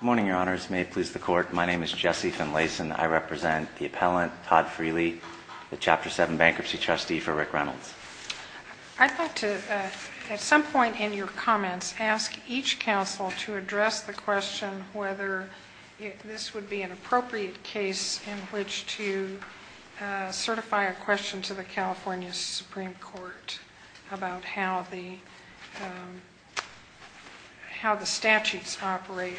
Good morning, Your Honors. May it please the Court, my name is Jesse Finlayson. I represent the appellant Todd Freely, the Chapter 7 Bankruptcy Trustee for Rick Reynolds. I'd like to at some point in your comments ask each counsel to address the question whether this would be an appropriate case in which to certify a question to the California Supreme Court about how the statutes operate.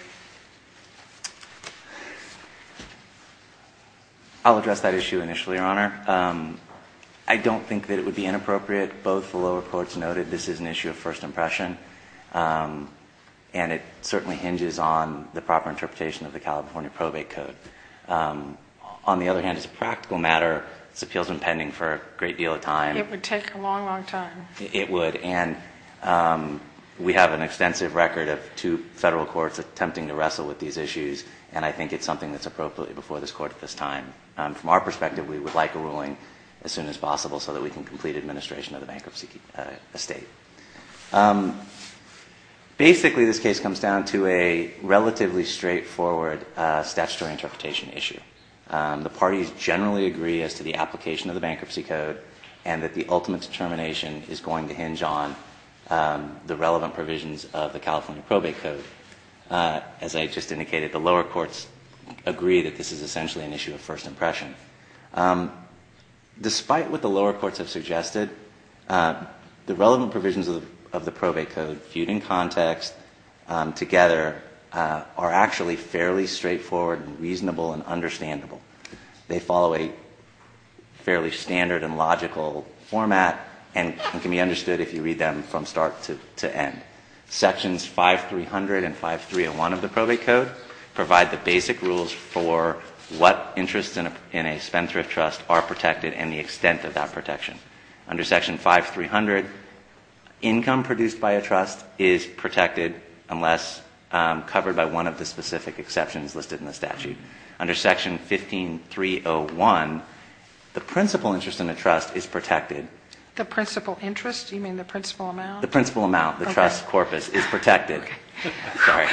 I'll address that issue initially, Your Honor. I don't think that it would be inappropriate. Both the lower courts noted this is an issue of first impression and it certainly hinges on the proper interpretation of the California Probate Code. On the other hand, it's a practical matter. This appeal has been pending for a great deal of time. It would take a long, long time. It would, and we have an extensive record of two federal courts attempting to wrestle with these issues, and I think it's something that's appropriate before this Court at this time. From our perspective, we would like a ruling as soon as possible so that we can complete administration of the bankruptcy estate. Basically, this case comes down to a relatively straightforward statutory interpretation issue. The parties generally agree as to the application of the bankruptcy code and that the ultimate determination is going to hinge on the relevant provisions of the California Probate Code. As I just indicated, the lower courts agree that this is essentially an issue of first impression. Despite what the lower courts have suggested, the relevant provisions of the Probate Code viewed in context together are actually fairly straightforward and reasonable and understandable. They follow a fairly standard and logical format and can be understood if you read them from start to end. Sections 5300 and 5301 of the Probate Code provide the basic rules for what interests in a spendthrift trust are protected and the extent of that protection. Under Section 5300, income produced by a trust is protected unless covered by one of the specific exceptions listed in the statute. Under Section 15301, the principal interest in a trust is protected. The principal interest? Do you mean the principal amount? The principal amount. Okay. The trust corpus is protected. Okay. Sorry.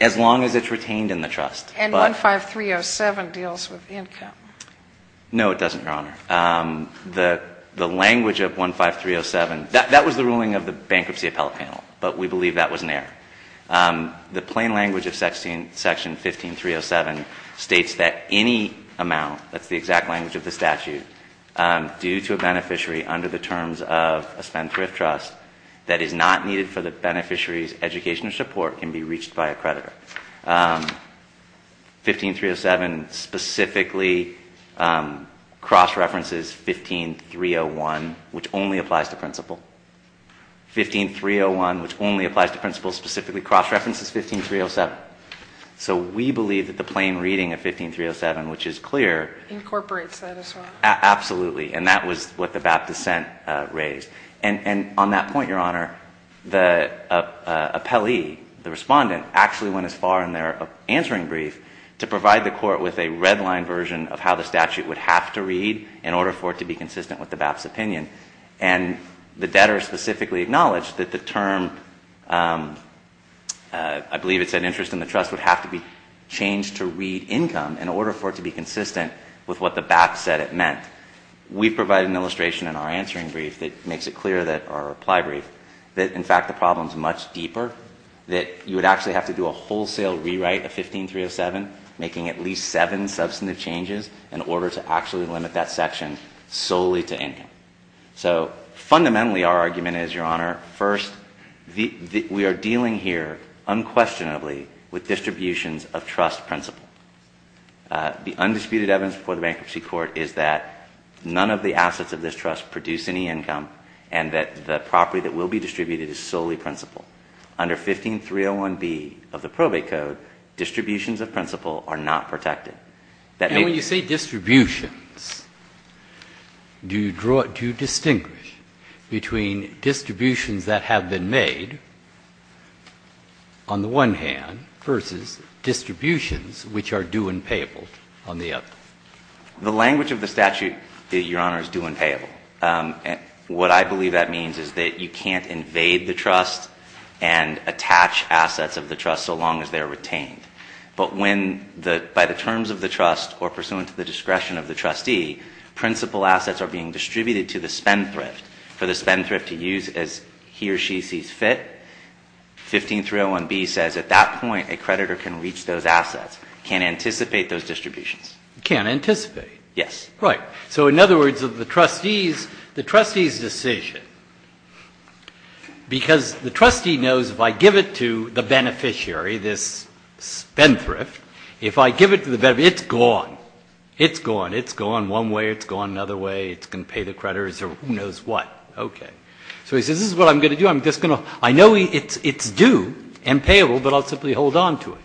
As long as it's retained in the trust. And 15307 deals with income. No, it doesn't, Your Honor. The language of 15307, that was the ruling of the Bankruptcy Appellate Panel, but we believe that was an error. The plain language of Section 15307 states that any amount, that's the exact language of the statute, due to a beneficiary under the terms of a spendthrift trust that is not needed for the beneficiary's education or support can be reached by a creditor. 15307 specifically cross-references 15301, which only applies to principal. 15301, which only applies to principal, specifically cross-references 15307. So we believe that the plain reading of 15307, which is clear. Incorporates that as well. Absolutely. And that was what the BAP dissent raised. And on that point, Your Honor, the appellee, the Respondent, actually went as far in their answering brief to provide the Court with a red-line version of how the statute would have to read in order for it to be consistent with the BAP's opinion. And the debtor specifically acknowledged that the term, I believe it said interest in the trust, would have to be changed to read income in order for it to be consistent with what the BAP said it meant. We provided an illustration in our answering brief that makes it clear that, or our reply brief, that in fact the problem is much deeper, that you would actually have to do a wholesale rewrite of 15307, making at least seven substantive changes in order to actually limit that section solely to income. So fundamentally, our argument is, Your Honor, first, we are dealing here unquestionably with distributions of trust principle. The undisputed evidence before the Bankruptcy Court is that none of the assets of this trust produce any income, and that the property that will be distributed is solely principle. Under 15301B of the probate code, distributions of principle are not protected. And when you say distributions, do you draw, do you distinguish between distributions that have been made on the one hand versus distributions which are due and payable on the other? The language of the statute, Your Honor, is due and payable. What I believe that means is that you can't invade the trust and attach assets of the trust so long as they are retained. But when the, by the terms of the trust or pursuant to the discretion of the trustee, principle assets are being distributed to the spendthrift for the spendthrift to use as he or she sees fit. 15301B says at that point a creditor can reach those assets, can't anticipate those distributions. Can't anticipate? Yes. Right. So in other words, the trustee's decision, because the trustee knows if I give it to the beneficiary, this spendthrift, if I give it to the beneficiary, it's gone. It's gone. It's gone one way. It's gone another way. It's going to pay the creditors or who knows what. Okay. So he says this is what I'm going to do. I'm just going to, I know it's due and payable, but I'll simply hold on to it.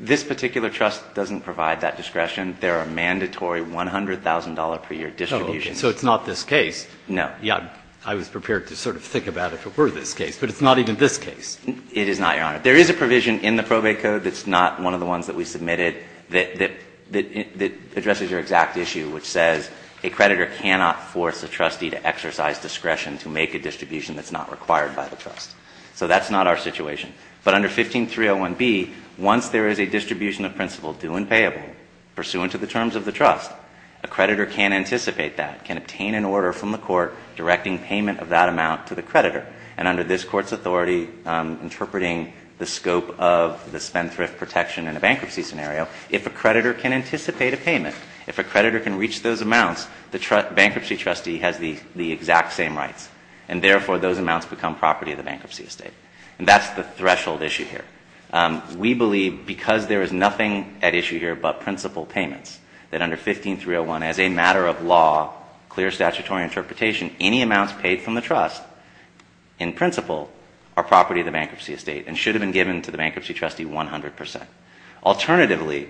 This particular trust doesn't provide that discretion. There are mandatory $100,000 per year distributions. So it's not this case. No. I was prepared to sort of think about if it were this case, but it's not even this case. It is not, Your Honor. There is a provision in the probate code that's not one of the ones that we submitted that addresses your exact issue, which says a creditor cannot force a trustee to exercise discretion to make a distribution that's not required by the trust. So that's not our situation. But under 15301B, once there is a distribution of principle due and payable pursuant to the terms of the trust, a creditor can anticipate that, can obtain an order from the court directing payment of that amount to the creditor. And under this court's authority, interpreting the scope of the spendthrift protection in a bankruptcy scenario, if a creditor can anticipate a payment, if a creditor can reach those amounts, the bankruptcy trustee has the exact same rights. And therefore, those amounts become property of the bankruptcy estate. And that's the threshold issue here. We believe, because there is nothing at issue here but principle payments, that under 15301, as a matter of law, clear statutory interpretation, any amounts paid from the trust, in principle, are property of the bankruptcy estate and should have been given to the bankruptcy trustee 100 percent. Alternatively,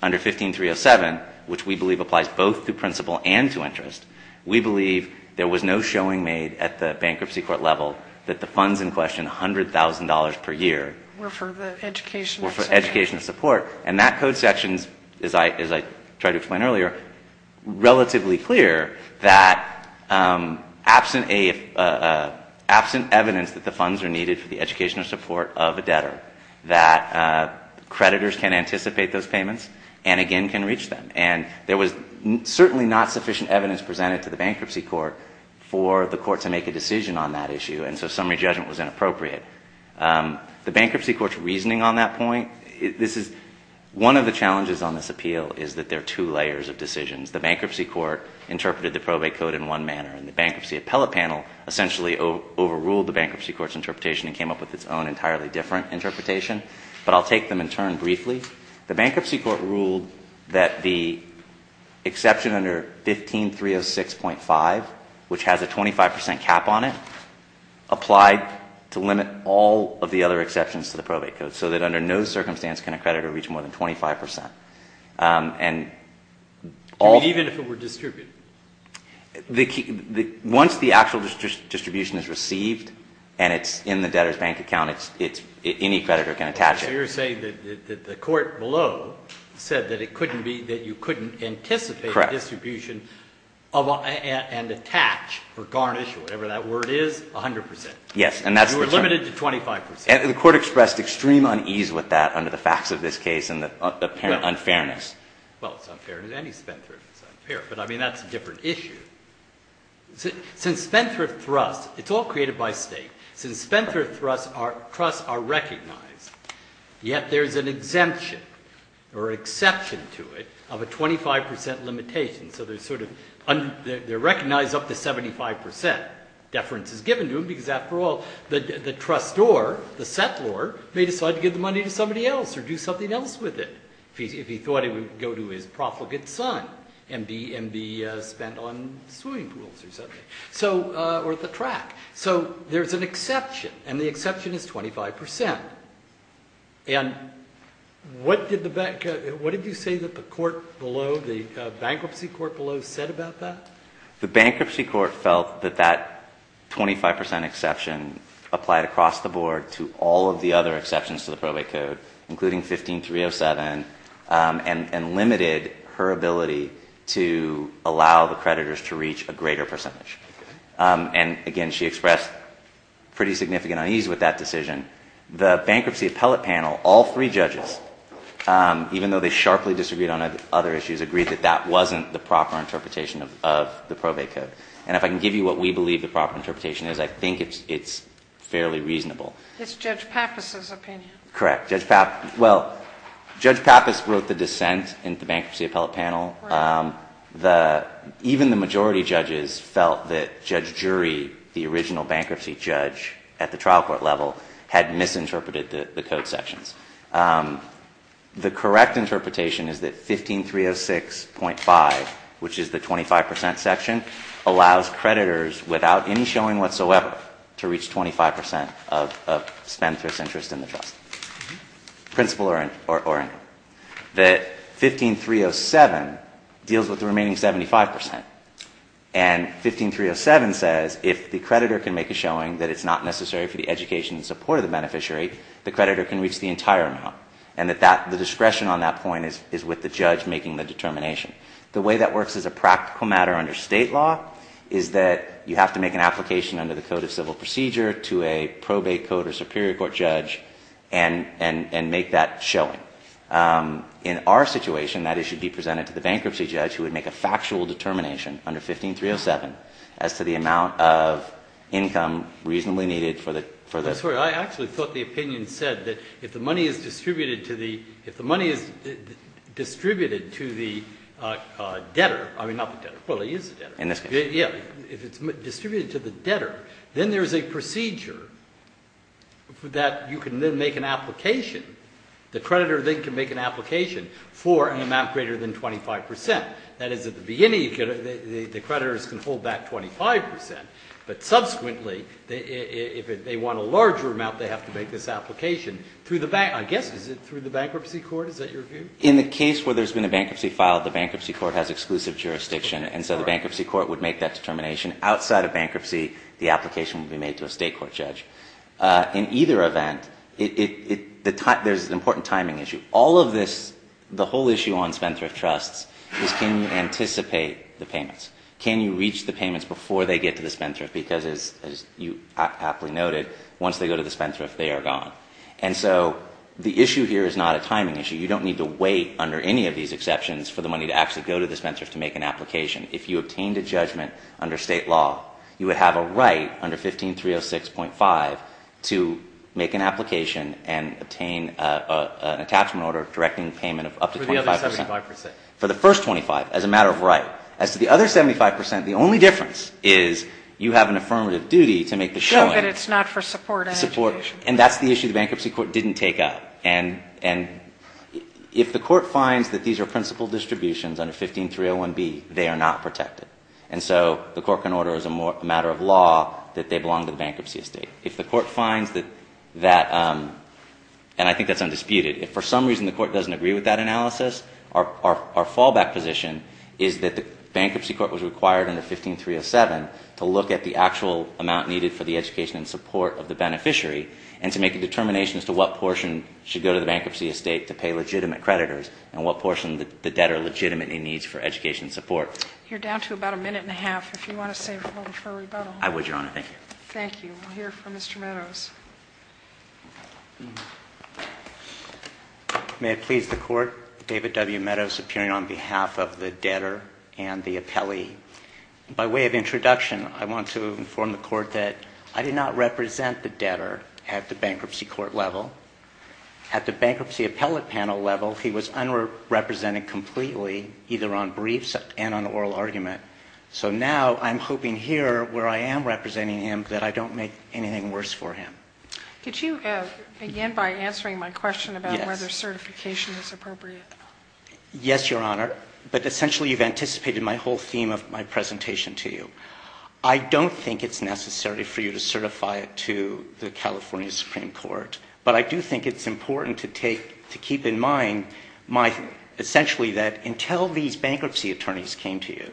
under 15307, which we believe applies both to principle and to interest, we believe there was no showing made at the bankruptcy court level that the funds in question, $100,000 per year, were for educational support. And that code section, as I tried to explain earlier, relatively clear that absent evidence that the funds are needed for the educational support of a debtor, that creditors can anticipate those payments and, again, can reach them. And there was certainly not sufficient evidence presented to the bankruptcy court for the court to make a decision on that issue. And so summary judgment was inappropriate. The bankruptcy court's reasoning on that point, this is, one of the challenges on this appeal is that there are two layers of decisions. The bankruptcy court interpreted the probate code in one manner. And the bankruptcy appellate panel essentially overruled the bankruptcy court's interpretation and came up with its own entirely different interpretation. But I'll take them in turn briefly. The bankruptcy court ruled that the exception under 15306.5, which has a 25 percent cap on it, applied to limit all of the other exceptions to the probate code, so that under no circumstance can a creditor reach more than 25 percent. And all of them. Even if it were distributed? Once the actual distribution is received and it's in the debtor's bank account, any creditor can attach it. So you're saying that the court below said that it couldn't be, that you couldn't anticipate a distribution and attach, or garnish, or whatever that word is, 100 percent. Yes. You were limited to 25 percent. And the court expressed extreme unease with that under the facts of this case and the apparent unfairness. Well, it's unfair. Any spendthrift is unfair. But, I mean, that's a different issue. Since spendthrift trusts, it's all created by state. Since spendthrift trusts are recognized, yet there's an exemption or exception to it of a 25 percent limitation. So there's sort of, they're recognized up to 75 percent. Because, after all, the trustor, the settlor, may decide to give the money to somebody else or do something else with it. If he thought he would go to his profligate son and be spent on swimming pools or something. Or the track. So there's an exception. And the exception is 25 percent. And what did the bank, what did you say that the court below, the bankruptcy court below said about that? The bankruptcy court felt that that 25 percent exception applied across the board to all of the other exceptions to the probate code, including 15-307, and limited her ability to allow the creditors to reach a greater percentage. And, again, she expressed pretty significant unease with that decision. The bankruptcy appellate panel, all three judges, even though they sharply disagreed on other issues, agreed that that wasn't the proper interpretation of the probate code. And if I can give you what we believe the proper interpretation is, I think it's fairly reasonable. It's Judge Pappas' opinion. Correct. Judge Pappas, well, Judge Pappas wrote the dissent in the bankruptcy appellate panel. Even the majority judges felt that Judge Jury, the original bankruptcy judge at the trial court level, had misinterpreted the code sections. The correct interpretation is that 15-306.5, which is the 25 percent section, allows creditors, without any showing whatsoever, to reach 25 percent of spendthrift's interest in the trust, principal or interest. That 15-307 deals with the remaining 75 percent. And 15-307 says if the creditor can make a showing that it's not necessary for the education and support of the beneficiary, the creditor can reach the entire amount. And the discretion on that point is with the judge making the determination. The way that works as a practical matter under state law is that you have to make an application under the Code of Civil Procedure to a probate code or superior court judge and make that showing. In our situation, that issue would be presented to the bankruptcy judge who would make a factual determination under 15-307 as to the amount of income reasonably needed for the... I'm sorry. I actually thought the opinion said that if the money is distributed to the debtor... I mean, not the debtor. Well, he is the debtor. In this case. Yeah. If it's distributed to the debtor, then there's a procedure that you can then make an application. The creditor then can make an application for an amount greater than 25 percent. That is, at the beginning, the creditors can hold back 25 percent. But subsequently, if they want a larger amount, they have to make this application. I guess, is it through the bankruptcy court? Is that your view? In the case where there's been a bankruptcy filed, the bankruptcy court has exclusive jurisdiction. And so the bankruptcy court would make that determination. Outside of bankruptcy, the application would be made to a state court judge. In either event, there's an important timing issue. All of this, the whole issue on spendthrift trusts is can you anticipate the payments? Can you reach the payments before they get to the spendthrift? Because, as you aptly noted, once they go to the spendthrift, they are gone. And so the issue here is not a timing issue. You don't need to wait under any of these exceptions for the money to actually go to the spendthrift to make an application. If you obtained a judgment under state law, you would have a right under 15306.5 to make an application and obtain an attachment order directing payment of up to 25 percent. For the other 75 percent. For the first 25, as a matter of right. As to the other 75 percent, the only difference is you have an affirmative duty to make the showing. So that it's not for support and education. And that's the issue the bankruptcy court didn't take up. And if the court finds that these are principal distributions under 15301B, they are not protected. And so the court can order as a matter of law that they belong to the bankruptcy estate. If the court finds that that, and I think that's undisputed, if for some reason the court doesn't agree with that analysis, our fallback position is that the bankruptcy court was required under 15307 to look at the actual amount needed for the education and support of the beneficiary and to make a determination as to what portion should go to the bankruptcy estate to pay legitimate creditors and what portion the debtor legitimately needs for education and support. You're down to about a minute and a half. If you want to save room for rebuttal. I would, Your Honor. Thank you. Thank you. We'll hear from Mr. Meadows. May it please the court, David W. Meadows appearing on behalf of the debtor and the appellee. By way of introduction, I want to inform the court that I did not represent the debtor at the bankruptcy court level. At the bankruptcy appellate panel level, he was unrepresented completely either on briefs and on oral argument. So now I'm hoping here where I am representing him that I don't make anything worse for him. Could you, again, by answering my question about whether certification is appropriate. Yes, Your Honor. But essentially you've anticipated my whole theme of my presentation to you. I don't think it's necessary for you to certify it to the California Supreme Court. But I do think it's important to take, to keep in mind my, essentially that until these bankruptcy attorneys came to you,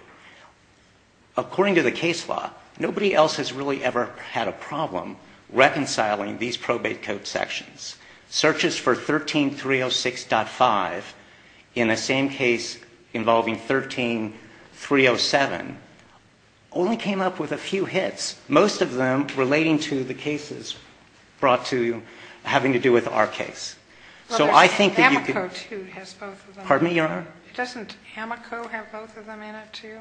according to the case law, nobody else has really ever had a problem reconciling these probate code sections. Searches for 13306.5 in the same case involving 13307 only came up with a few hits. Most of them relating to the cases brought to you having to do with our case. So I think that you could. Pardon me, Your Honor? Doesn't Hamaco have both of them in it too?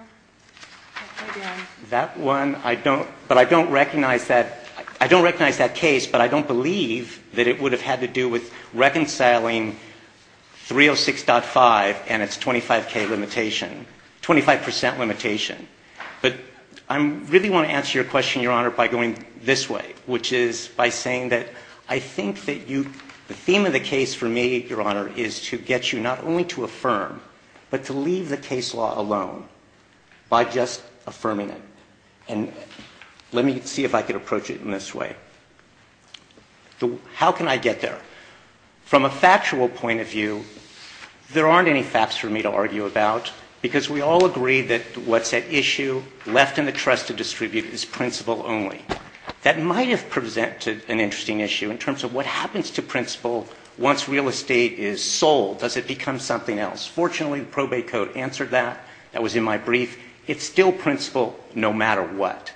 That one I don't, but I don't recognize that, I don't recognize that case, but I don't believe that it would have had to do with reconciling 306.5 and its 25K limitation, 25% limitation. But I really want to answer your question, Your Honor, by going this way, which is by saying that I think that you, the theme of the case for me, Your Honor, is to get you not only to affirm, but to leave the case law alone by just affirming it. And let me see if I can approach it in this way. How can I get there? From a factual point of view, there aren't any facts for me to argue about because we all agree that what's at issue left in the trust to distribute is principle only. That might have presented an interesting issue in terms of what happens to principle once real estate is sold. Does it become something else? Fortunately, the probate code answered that. That was in my brief. It's still principle no matter what.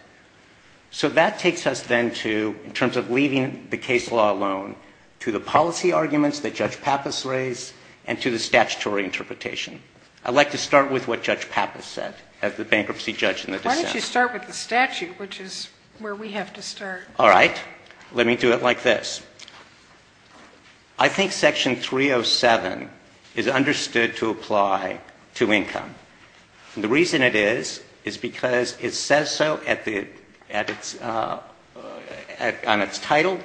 So that takes us then to, in terms of leaving the case law alone, to the policy arguments that Judge Pappas raised and to the statutory interpretation. I'd like to start with what Judge Pappas said as the bankruptcy judge in the dissent. Why don't you start with the statute, which is where we have to start? All right. Let me do it like this. I think Section 307 is understood to apply to income. The reason it is is because it says so on its title.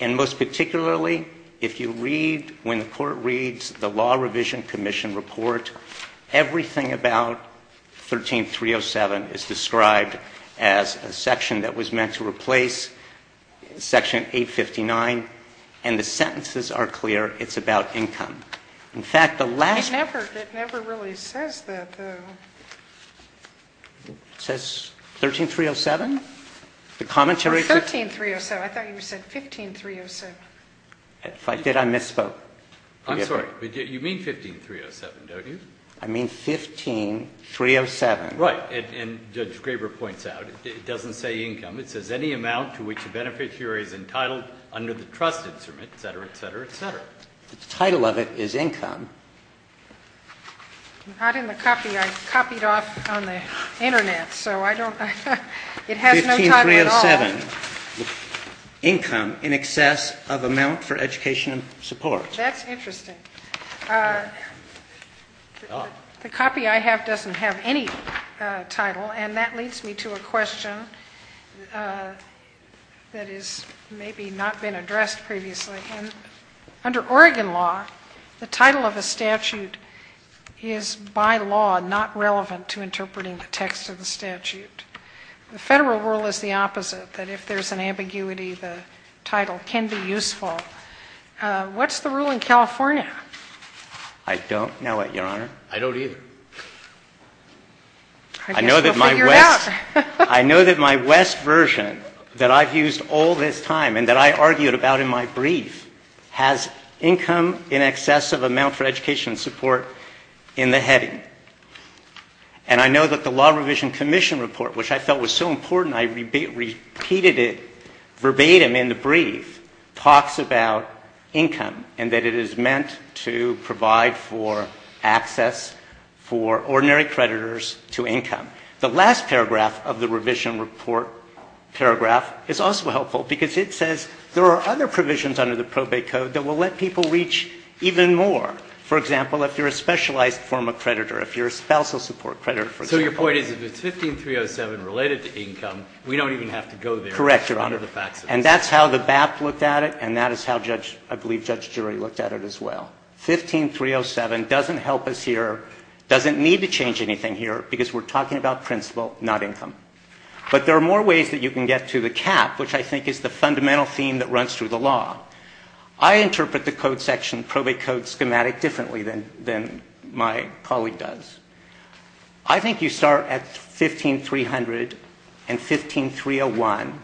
And most particularly, if you read, when the court reads the Law Revision Commission report, everything about 13307 is described as a section that was meant to replace Section 859. And the sentences are clear. It's about income. It never really says that, though. It says 13307? 13307. I thought you said 15307. Did I misspoke? I'm sorry. You mean 15307, don't you? I mean 15307. Right. And Judge Graber points out it doesn't say income. It says any amount to which a beneficiary is entitled under the trust instrument, et cetera, et cetera, et cetera. But the title of it is income. Not in the copy I copied off on the Internet, so I don't know. It has no title at all. 15307, income in excess of amount for education and support. That's interesting. The copy I have doesn't have any title, and that leads me to a question that has maybe not been addressed previously. Under Oregon law, the title of a statute is by law not relevant to interpreting the text of the statute. The Federal rule is the opposite, that if there's an ambiguity, the title can be useful. What's the rule in California? I don't know it, Your Honor. I don't either. I guess we'll figure it out. I know that my West version that I've used all this time, and that I argued about in my brief, has income in excess of amount for education and support in the heading. And I know that the Law Revision Commission report, which I felt was so important I repeated it verbatim in the brief, talks about income and that it is meant to provide for access for ordinary creditors to income. The last paragraph of the revision report paragraph is also helpful because it says there are other provisions under the probate code that will let people reach even more. For example, if you're a specialized form of creditor, if you're a spousal support creditor, for example. So your point is if it's 15307 related to income, we don't even have to go there under the faxes? Correct, Your Honor. And that's how the BAP looked at it, and that is how I believe Judge Drury looked at it as well. 15307 doesn't help us here, doesn't need to change anything here, because we're talking about principle, not income. But there are more ways that you can get to the cap, which I think is the fundamental theme that runs through the law. I interpret the code section, probate code schematic, differently than my colleague does. I think you start at 15300 and 15301.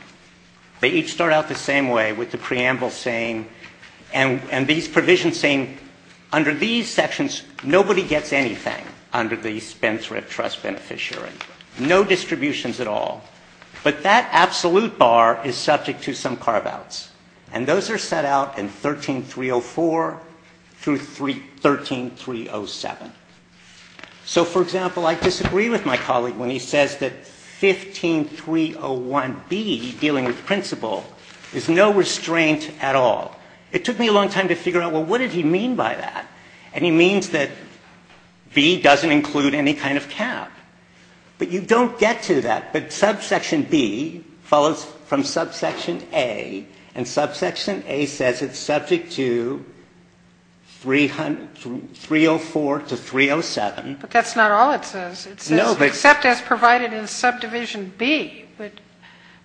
They each start out the same way with the preamble saying, and these provisions saying, under these sections, nobody gets anything under the Spendthrift Trust Beneficiary. No distributions at all. But that absolute bar is subject to some carve-outs, and those are set out in 13304 through 13307. So, for example, I disagree with my colleague when he says that 15301B, dealing with principle, is no restraint at all. It took me a long time to figure out, well, what did he mean by that? And he means that B doesn't include any kind of cap. But you don't get to that. But subsection B follows from subsection A, and subsection A says it's subject to 304 to 307. But that's not all it says. It says, except as provided in subdivision B. But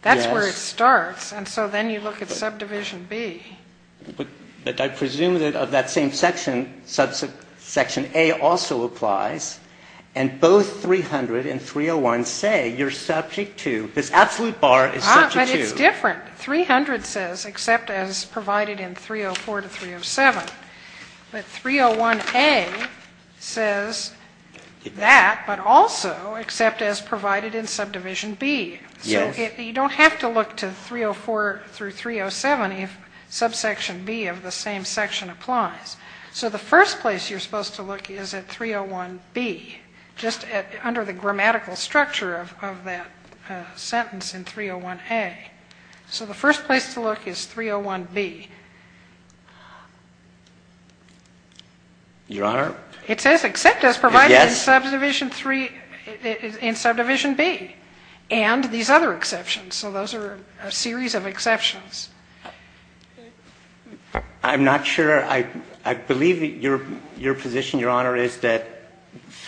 that's where it starts. And so then you look at subdivision B. But I presume that of that same section, subsection A also applies. And both 300 and 301 say you're subject to this absolute bar is subject to. But it's different. 300 says, except as provided in 304 to 307. But 301A says that, but also, except as provided in subdivision B. So you don't have to look to 304 through 307 if subsection B of the same section applies. So the first place you're supposed to look is at 301B, just under the grammatical structure of that sentence in 301A. So the first place to look is 301B. Your Honor? It says, except as provided in subdivision B. And these other exceptions. So those are a series of exceptions. I'm not sure. I believe your position, Your Honor, is that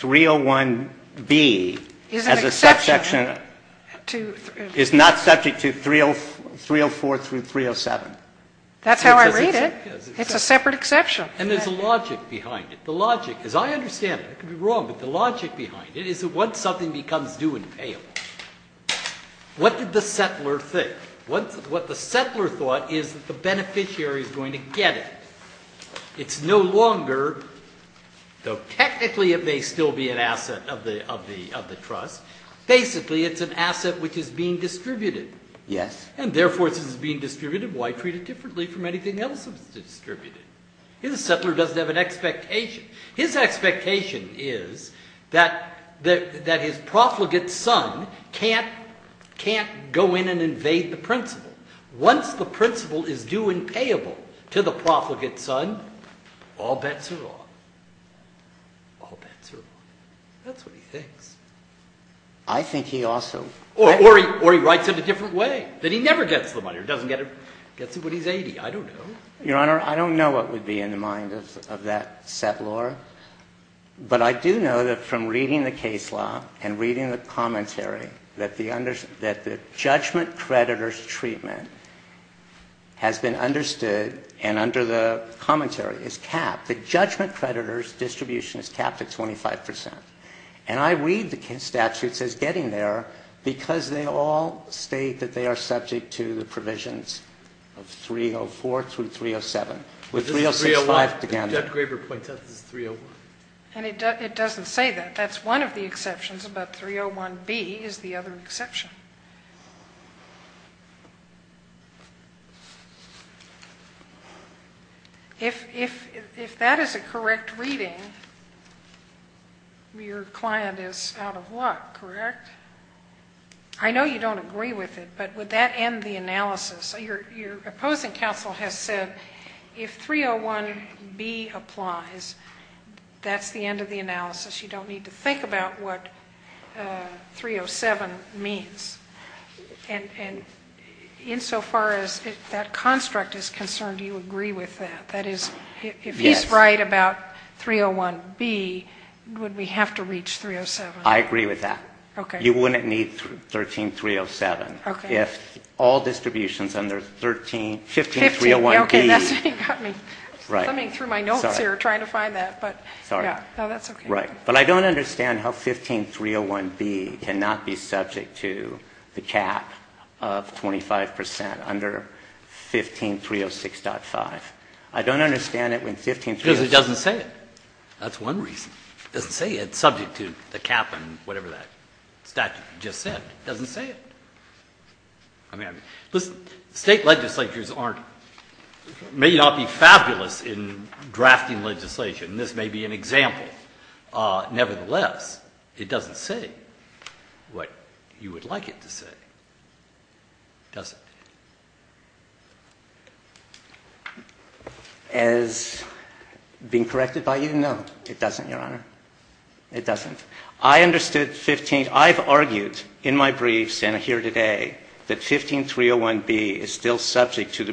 301B as a subsection is not subject to 304 through 307. That's how I read it. It's a separate exception. And there's a logic behind it. The logic, as I understand it, I could be wrong, but the logic behind it is that once something becomes due and payable, what did the settler think? What the settler thought is that the beneficiary is going to get it. It's no longer, though technically it may still be an asset of the trust, basically it's an asset which is being distributed. Yes. And therefore, since it's being distributed, why treat it differently from anything else that's distributed? The settler doesn't have an expectation. His expectation is that his profligate son can't go in and invade the principal. Once the principal is due and payable to the profligate son, all bets are off. All bets are off. That's what he thinks. I think he also. Or he writes it a different way, that he never gets the money or doesn't get it. Gets it when he's 80. I don't know. Your Honor, I don't know what would be in the mind of that settler, but I do know that from reading the case law and reading the commentary, that the judgment creditor's treatment has been understood and under the commentary is capped. The judgment creditor's distribution is capped at 25%. And I read the statutes as getting there because they all state that they are subject to the provisions of 304 through 307. With 306-5, it began there. And Jeff Graber points out this is 301. And it doesn't say that. That's one of the exceptions, but 301B is the other exception. If that is a correct reading, your client is out of luck, correct? I know you don't agree with it, but would that end the analysis? Your opposing counsel has said if 301B applies, that's the end of the analysis. You don't need to think about what 307 means. And insofar as that construct is concerned, do you agree with that? That is, if he's right about 301B, would we have to reach 307? I agree with that. You wouldn't need 13307. If all distributions under 15301B. Okay, that's what you got me. I'm coming through my notes here trying to find that. Sorry. No, that's okay. Right. But I don't understand how 15301B cannot be subject to the cap of 25% under 15306.5. I don't understand it when 15306. Because it doesn't say it. That's one reason. It doesn't say it. It's subject to the cap and whatever that statute just said. It doesn't say it. I mean, listen, State legislatures may not be fabulous in drafting legislation. This may be an example. Nevertheless, it doesn't say what you would like it to say, does it? As being corrected by you, no, it doesn't, Your Honor. It doesn't. I understood 15. I've argued in my briefs and here today that 15301B is still subject to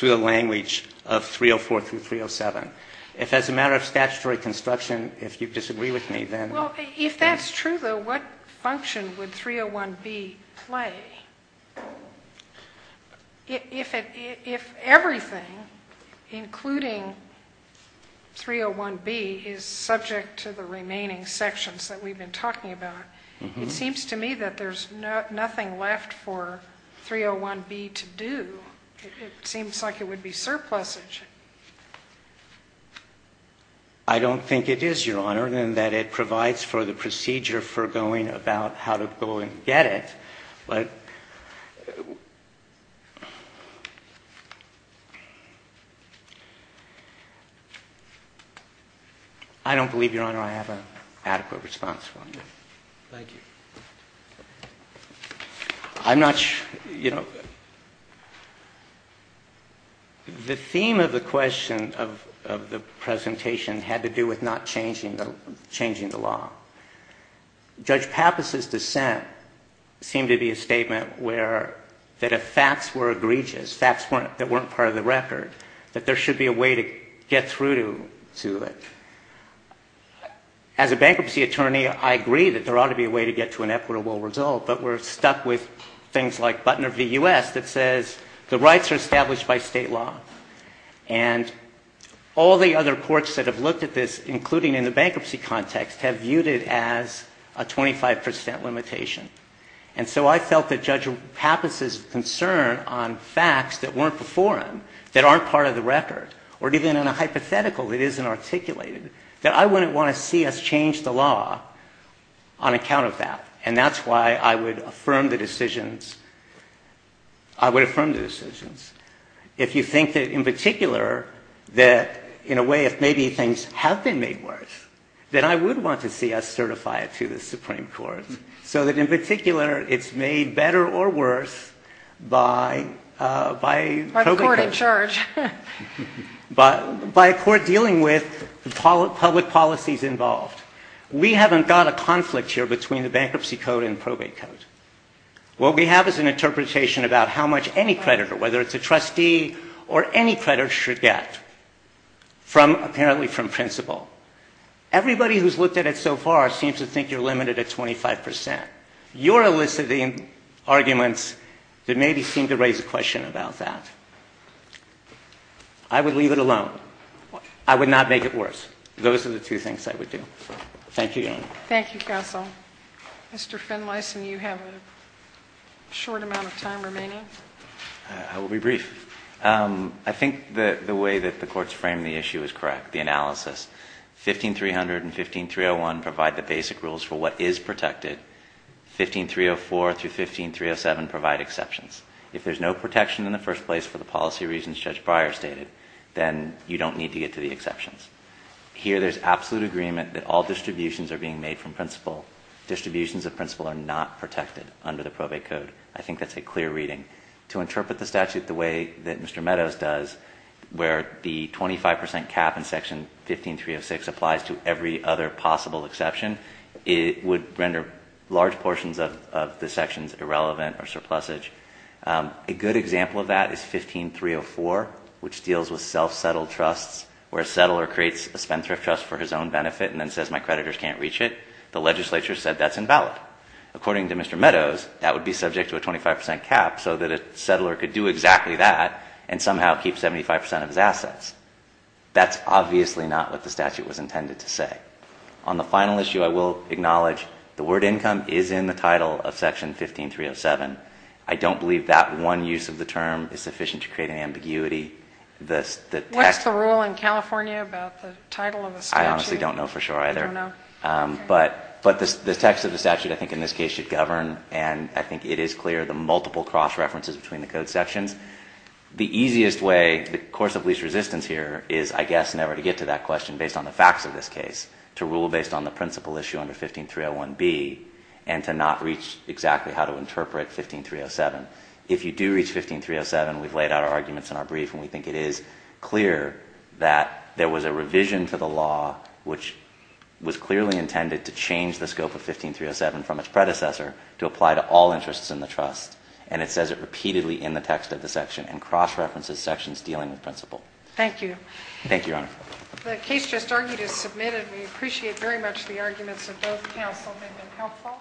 the language of 304 through 307. If as a matter of statutory construction, if you disagree with me, then. Well, if that's true, though, what function would 301B play? If everything, including 301B, is subject to the remaining sections that we've been talking about, it seems to me that there's nothing left for 301B to do. It seems like it would be surplusage. I don't think it is, Your Honor, in that it provides for the procedure for going about how to go and get it. But I don't believe, Your Honor, I have an adequate response for you. Thank you. I'm not sure, you know. The theme of the question of the presentation had to do with not changing the law. Judge Pappas' dissent seemed to be a statement where that if facts were egregious, facts that weren't part of the record, that there should be a way to get through to it. As a bankruptcy attorney, I agree that there ought to be a way to get to an equitable result, but we're stuck with things like Butner v. U.S. that says the rights are established by state law. And all the other courts that have looked at this, including in the bankruptcy context, have viewed it as a 25 percent limitation. And so I felt that Judge Pappas' concern on facts that weren't before him, that aren't part of the record, or even in a hypothetical that isn't articulated, that I wouldn't want to see us change the law on account of that. And that's why I would affirm the decisions. I would affirm the decisions. If you think that in particular that in a way if maybe things have been made worse, then I would want to see us certify it to the Supreme Court so that in particular it's made better or worse by a court dealing with public policies involved. We haven't got a conflict here between the bankruptcy code and probate code. What we have is an interpretation about how much any creditor, whether it's a trustee or any creditor, should get, apparently from principle. Everybody who's looked at it so far seems to think you're limited at 25 percent. You're eliciting arguments that maybe seem to raise a question about that. I would leave it alone. I would not make it worse. Those are the two things I would do. Thank you, Your Honor. Thank you, Counsel. Mr. Finlayson, you have a short amount of time remaining. I will be brief. I think the way that the court's framed the issue is correct, the analysis. 15300 and 15301 provide the basic rules for what is protected. 15304 through 15307 provide exceptions. If there's no protection in the first place for the policy reasons Judge Breyer stated, then you don't need to get to the exceptions. Here there's absolute agreement that all distributions are being made from principle. Distributions of principle are not protected under the probate code. I think that's a clear reading. To interpret the statute the way that Mr. Meadows does, where the 25 percent cap in Section 15306 applies to every other possible exception, it would render large portions of the sections irrelevant or surplusage. A good example of that is 15304, which deals with self-settled trusts, where a settler creates a spendthrift trust for his own benefit and then says, my creditors can't reach it. The legislature said that's invalid. According to Mr. Meadows, that would be subject to a 25 percent cap so that a settler could do exactly that and somehow keep 75 percent of his assets. That's obviously not what the statute was intended to say. On the final issue, I will acknowledge the word income is in the title of Section 15307. I don't believe that one use of the term is sufficient to create an ambiguity. What's the rule in California about the title of the statute? I honestly don't know for sure either. I don't know. But the text of the statute I think in this case should govern, and I think it is clear, the multiple cross-references between the code sections. The easiest way, the course of least resistance here is, I guess, never to get to that question based on the facts of this case, to rule based on the principal issue under 15301B and to not reach exactly how to interpret 15307. If you do reach 15307, we've laid out our arguments in our brief, and we think it is clear that there was a revision to the law which was clearly intended to change the scope of 15307 from its predecessor to apply to all interests in the trust. And it says it repeatedly in the text of the section and cross-references sections dealing with principal. Thank you. Thank you, Your Honor. The case just argued is submitted. We appreciate very much the arguments of both counsel. They've been helpful.